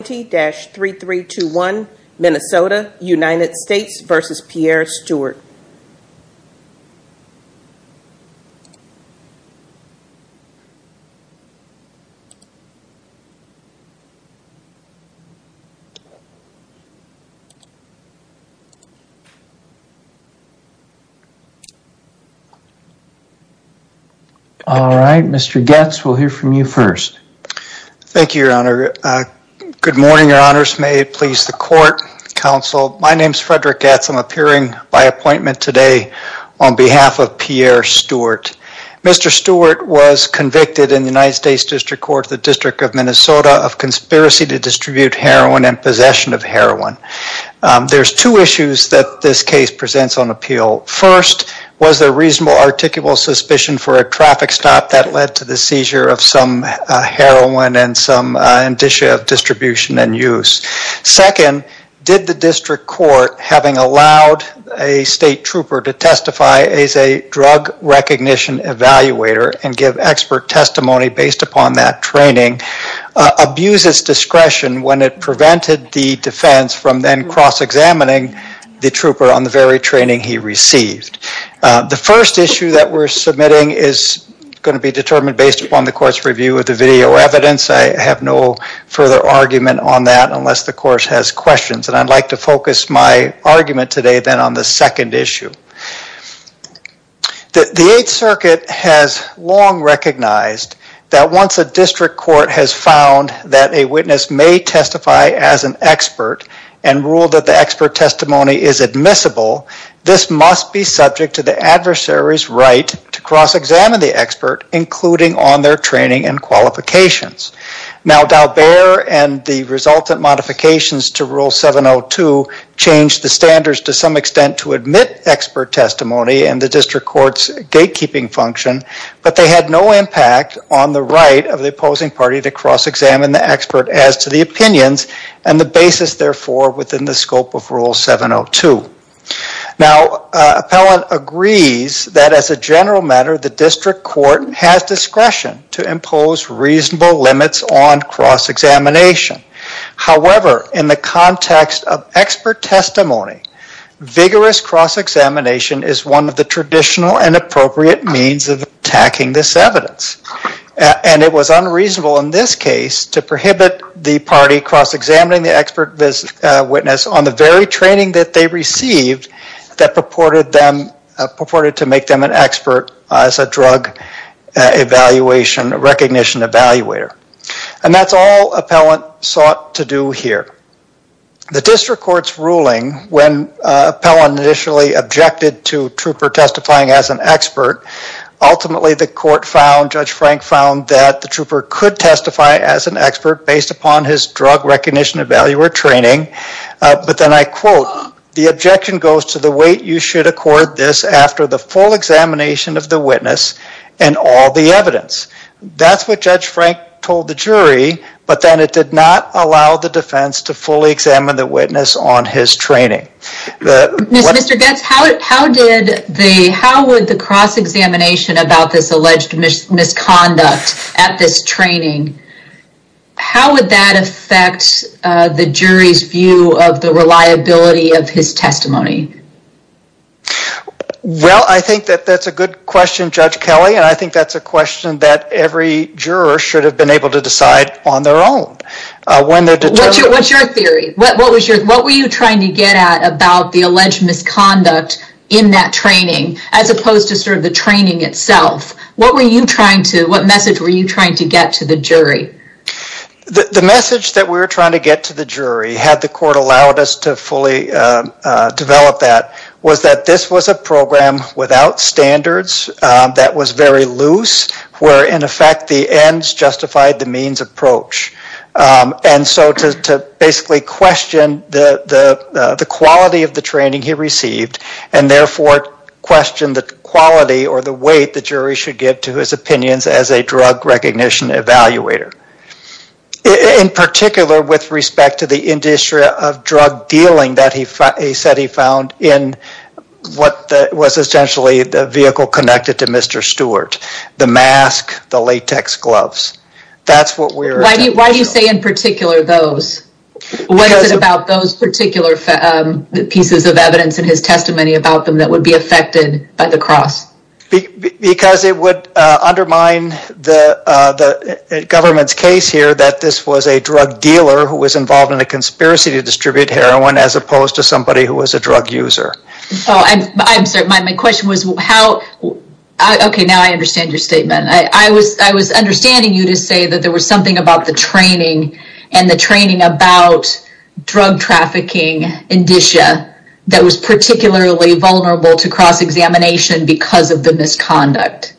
All right, Mr. Goetz, we'll hear from you first. Thank you, Your Honor. Good morning, Your Honors. May it please the Court, Counsel. My name is Frederick Goetz. I'm appearing by appointment today on behalf of Pierre Stewart. Mr. Stewart was convicted in the United States District Court of the District of Minnesota of conspiracy to distribute heroin and possession of heroin. There's two issues that this case presents on appeal. First, was there reasonable articulable suspicion for a traffic stop that led to the seizure of some heroin and some indicia of distribution and use? Second, did the District Court, having allowed a state trooper to testify as a drug recognition evaluator and give expert testimony based upon that training, abuse its discretion when it prevented the defense from then cross-examining the trooper on the very training he received? The first issue that we're submitting is going to be determined based upon the court's review of the video evidence. I have no further argument on that unless the course has questions, and I'd like to focus my argument today then on the second issue. The Eighth Circuit has long recognized that once a district court has found that a witness may testify as an expert and a witness must be subject to the adversary's right to cross-examine the expert, including on their training and qualifications. Now, Daubert and the resultant modifications to Rule 702 changed the standards to some extent to admit expert testimony and the district court's gatekeeping function, but they had no impact on the right of the opposing party to cross-examine the expert as to the opinions and the basis, therefore, within the scope of Rule 702. Now, appellant agrees that as a general matter the district court has discretion to impose reasonable limits on cross-examination. However, in the context of expert testimony, vigorous cross-examination is one of the traditional and appropriate means of attacking this evidence, and it was unreasonable in this case to prohibit the party cross-examining the expert witness on the very training that they received that purported them, purported to make them an expert as a drug evaluation, recognition evaluator, and that's all appellant sought to do here. The district court's ruling, when appellant initially objected to trooper testifying as an expert, ultimately the court found, Judge Frank found, that the trooper could testify as an expert based upon his drug recognition evaluator training, but then I quote, the objection goes to the weight you should accord this after the full examination of the witness and all the evidence. That's what Judge Frank told the jury, but then it did not allow the defense to fully examine the witness on his training. Mr. Goetz, how did the, how would the cross-examination about this alleged misconduct at this training, how would that affect the jury's view of the reliability of his testimony? Well, I think that that's a good question, Judge Kelly, and I think that's a question that every juror should have been able to decide on their own. What's your theory? What was your, what were you trying to get at about the alleged misconduct in that training, as opposed to sort of the training itself? What were you trying to, what message were you trying to get to the jury? The message that we were trying to get to the jury, had the court allowed us to fully develop that, was that this was a program without standards that was very loose, where in effect the ends justified the means approach. And so to basically question the quality of the training he received and therefore question the quality or the weight the jury should give to his opinions as a drug recognition evaluator. In particular with respect to the industry of drug dealing that he said he found in what was essentially the vehicle connected to Mr. Stewart, the mask, the latex gloves. That's what we're... Why do you say in particular those? What is it about those particular pieces of evidence in his testimony about them that would be affected by the cross? Because it would undermine the government's case here that this was a drug dealer who was involved in a conspiracy to distribute heroin, as opposed to somebody who was a drug user. Oh, I'm sorry. My question was how... Okay, now I understand your statement. I was understanding you to say that there was something about the training and the training about drug trafficking in DISHA that was particularly vulnerable to cross-examination because of the misconduct.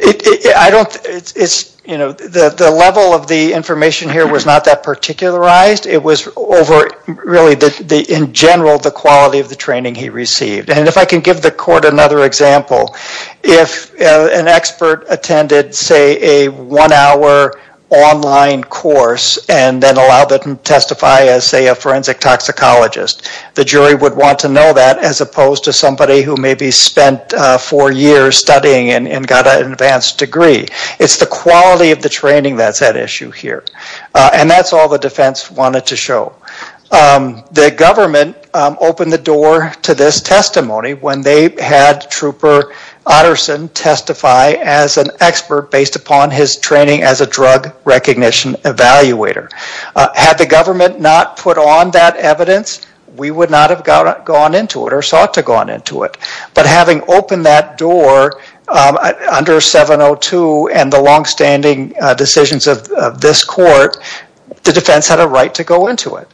I don't... It's, you know, the level of the information here was not that particularized. It was over really the, in general, the quality of the training he received. And if I can give the court another example, if an expert attended, say, a one-hour online course and then allowed them to testify as, say, a forensic toxicologist, the jury would want to know that, as opposed to somebody who maybe spent four years studying and got an advanced degree. It's the quality of the training that's at issue here. And that's all the defense wanted to show. The government opened the door to this testimony when they had Trooper Utterson testify as an expert based upon his training as a drug recognition evaluator. Had the government not put on that evidence, we would not have gone into it or sought to gone into it. But having opened that door under 702 and the long-standing decisions of this court, the defense had a right to go into it.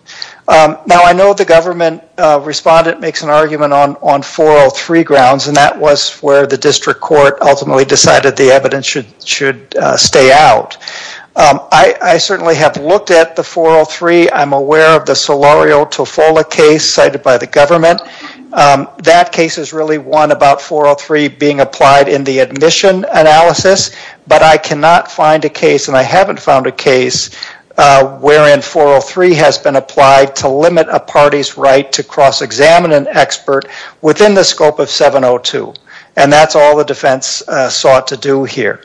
Now, I know the government respondent makes an argument on 403 grounds, and that was where the district court ultimately decided the evidence should stay out. I certainly have looked at the 403. I'm aware of the Solorio-Tofola case cited by the government. That case is really one about 403 being applied in the admission analysis, but I cannot find a case, and I haven't found a case, wherein 403 has been applied to limit a party's right to cross-examine an expert within the scope of 702. And that's all the defense sought to do here.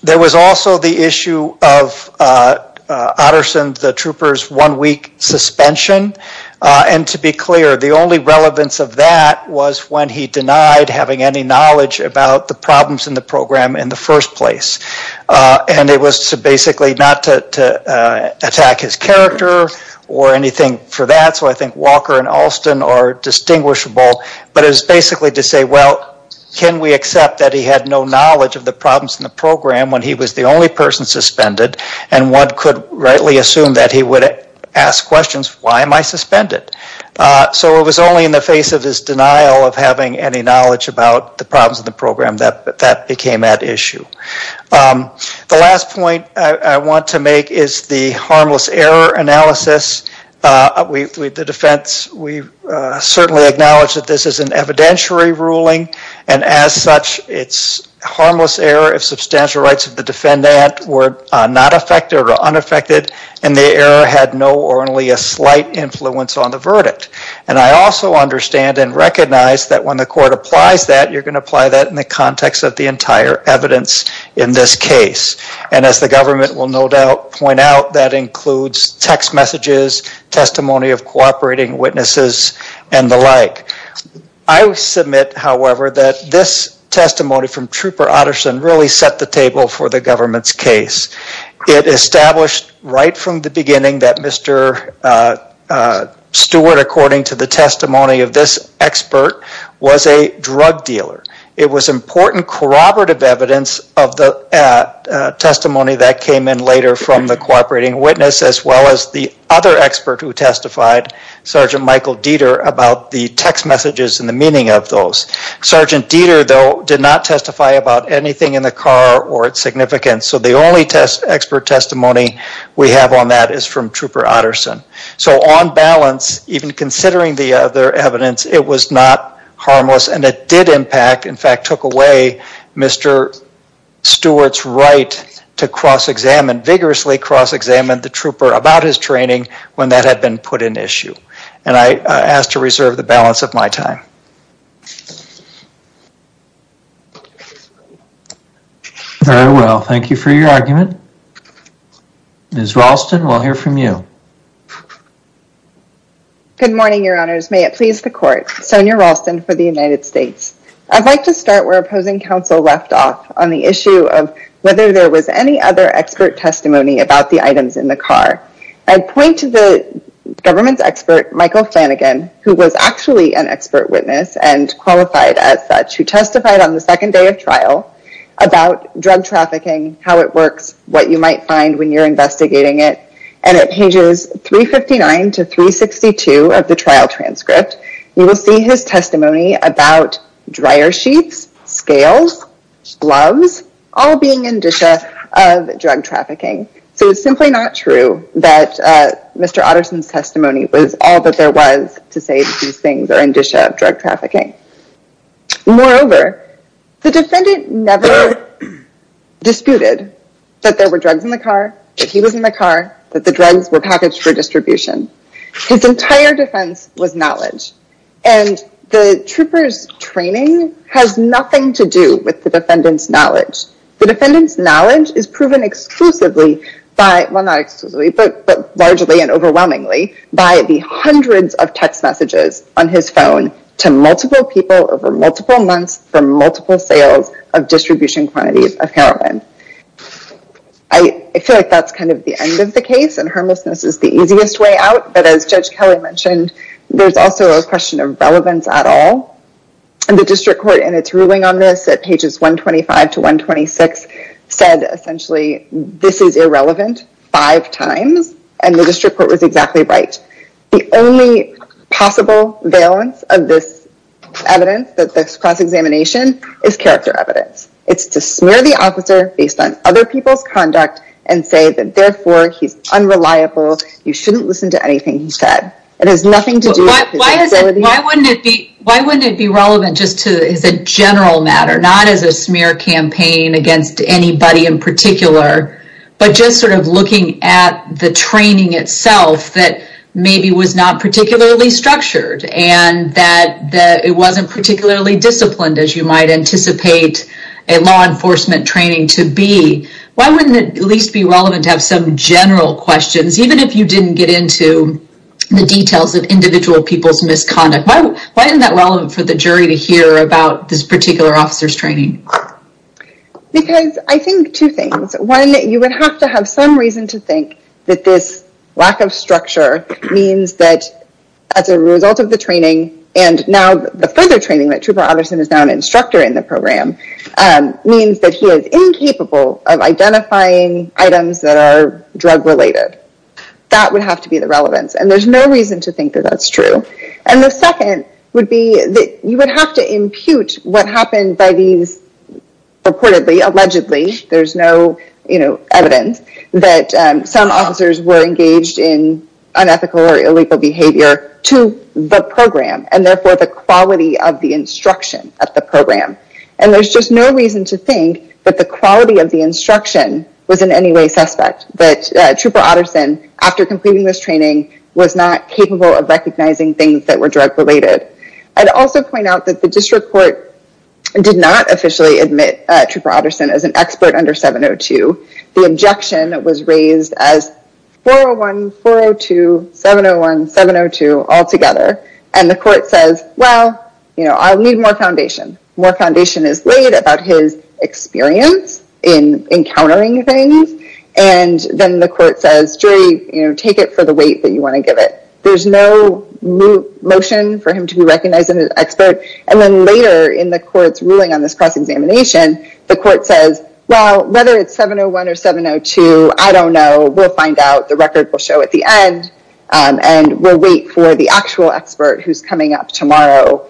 There was also the issue of Utterson, the Trooper's one-week suspension. And to be clear, the only relevance of that was when he denied having any knowledge about the problems in the program in the first place. And it was to basically not to attack his character or anything for that, so I think Walker and Alston are indistinguishable, but it was basically to say, well, can we accept that he had no knowledge of the problems in the program when he was the only person suspended, and one could rightly assume that he would ask questions, why am I suspended? So it was only in the face of his denial of having any knowledge about the problems of the program that that became at issue. The last point I want to make is the harmless error analysis. The defense, we certainly acknowledge that this is an evidentiary ruling, and as such, it's harmless error if substantial rights of the defendant were not affected or unaffected, and the error had no or only a slight influence on the verdict. And I also understand and recognize that when the court applies that, you're going to apply that in the context of the entire evidence in this case. And as the government will no doubt point out, that includes text messages, testimony of cooperating witnesses, and the like. I submit, however, that this testimony from Trooper Utterson really set the table for the government's case. It established right from the beginning that Mr. Stewart, according to the testimony of this expert, was a drug dealer. It was important corroborative evidence of the testimony that came in later from the cooperating witness, as well as the other expert who testified, Sergeant Michael Dieter, about the text messages and the meaning of those. Sergeant Dieter, though, did not testify about anything in the car or its significance. So the only expert testimony we have on that is from Trooper Utterson. So on balance, even considering the other evidence, it was not harmless, and it did impact, in fact, took away Mr. Stewart's right to cross-examine, vigorously cross-examine, the trooper about his training when that had been put in issue. And I asked to reserve the balance of my time. Very well, thank you for your argument. Ms. Ralston, we'll hear from you. Good morning, your honors. May it please the court. Sonya Ralston for the United States. I'd like to start where opposing counsel left off on the issue of whether there was any other expert testimony about the items in the car. I'd point to the government's expert, Michael Flanagan, who was actually an expert witness and qualified as such, who testified on the second day of trial about drug trafficking, how it works, what you might find when you're investigating it, and at pages 359 to 362 of the trial transcript, you will see his testimony about dryer sheets, scales, gloves, all being indicia of drug trafficking. So it's simply not true that Mr. Utterson's testimony was all that there was to say that these things are indicia of drug trafficking. Moreover, the defendant never disputed that there were drugs in the car, that he was in the car, that the drugs were packaged for distribution. His entire defense was knowledge, and the trooper's training has nothing to do with the defendant's knowledge. The defendant's knowledge is proven exclusively by, well not exclusively, but largely and overwhelmingly, by the hundreds of text messages on his phone to multiple people over multiple months for multiple sales of distribution quantities of heroin. I feel like that's kind of the end of the case, and harmlessness is the easiest way out, but as Judge Kelly mentioned, there's also a question of relevance at all, and the district court in its ruling on this at pages 125 to 126 said essentially, this is irrelevant five times, and the district court was exactly right. The only possible valence of this evidence, that this cross-examination, is character evidence. It's to smear the officer based on other people's conduct and say that therefore he's unreliable, you shouldn't listen to anything he said. It has nothing to do with his ability. Why wouldn't it be relevant just as a general matter, not as a smear campaign against anybody in particular, but just sort of looking at the training itself that maybe was not particularly structured, and that it wasn't particularly disciplined as you might anticipate a law enforcement training to be. Why wouldn't it at least be relevant to have some general questions, even if you didn't get into the details of individual people's misconduct? Why isn't that relevant for the jury to hear about this particular officer's training? Because I think two things. One, you would have to have some reason to think that this lack of structure means that as a result of the training, and now the further training that Trooper Utterson is now an instructor in the program, means that he is incapable of identifying items that are drug related. That would have to be the relevance, and there's no reason to think that that's true. And the second would be that you would have to impute what happened by these reportedly, allegedly, there's no evidence, that some officers were engaged in unethical or illegal behavior to the program, and therefore the quality of the instruction at the program. And there's just no reason to think that the quality of the instruction was in any way suspect, that Trooper Utterson, after completing this training, was not capable of recognizing things that were drug related. I'd also point out that the district court did not officially admit Trooper Utterson as an expert under 702. The objection was raised as 401, 402, 701, 702 altogether, and the court says, well, I'll need more foundation. More foundation is laid about his experience in encountering things, and then the court says, jury, take it for the weight that you want to give it. There's no motion for him to be recognized as an expert, and then later in the court's ruling on this cross-examination, the court says, well, whether it's 701 or 702, I don't know. We'll find out. The record will show at the end, and we'll wait for the actual expert who's coming up tomorrow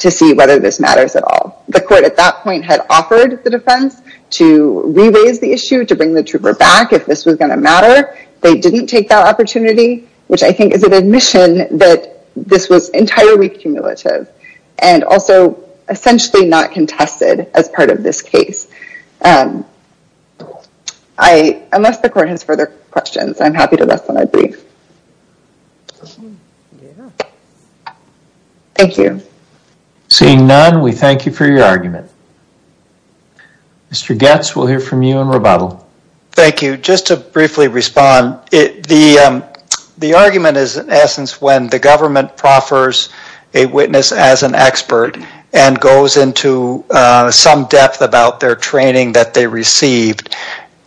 to see whether this matters at all. The court at that point had offered the defense to re-raise the issue, to bring the trooper back if this was going to matter. They didn't take that opportunity, which I think is an admission that this was entirely cumulative and also essentially not contested as part of this case. Unless the court has further questions, I'm happy to rest on my brief. Thank you. Seeing none, we thank you for your argument. Mr. Goetz, we'll hear from you in rebuttal. Thank you. Just to briefly respond, the argument is in essence when the government proffers a witness as an expert and goes into some depth about their training that they received.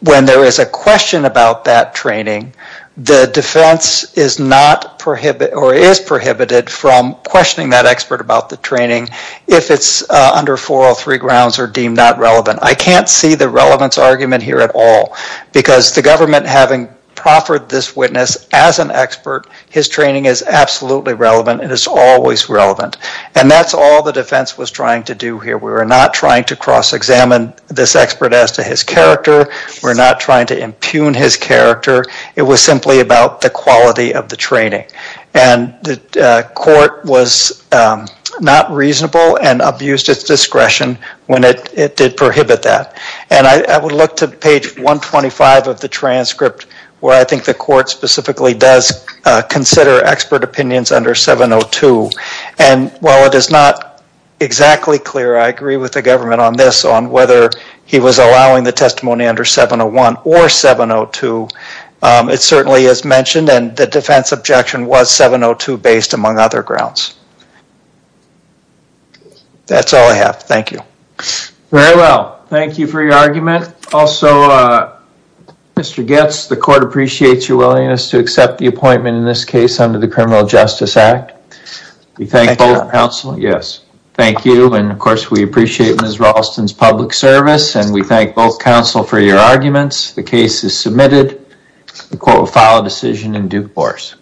When there is a question about that training, the defense is not prohibited or is prohibited from questioning that expert about the training if it's under 403 grounds or deemed not relevant. I can't see the relevance argument here at all because the government having proffered this witness as an expert, his training is absolutely relevant and it's always relevant. And that's all the defense was trying to do here. We were not trying to cross-examine this expert as to his character. We're not trying to impugn his character. It was simply about the quality of the training and the court was not reasonable and abused its discretion when it did prohibit that. And I would look to page 125 of the transcript where I think the court specifically does consider expert opinions under 702. And while it is not exactly clear, I agree with the government on this, on whether he was allowing the testimony under 701 or 702, it certainly is mentioned and the defense objection was 702 based among other grounds. That's all I have. Thank you. Very well. Thank you for your argument. Also, Mr. Goetz, the court appreciates your willingness to accept the appointment in this case under the Criminal Justice Act. We thank both counsel. Yes. Thank you. And of course, we appreciate Ms. Raulston's public service and we thank both counsel for your arguments. The case is submitted. The court will file a decision in due course.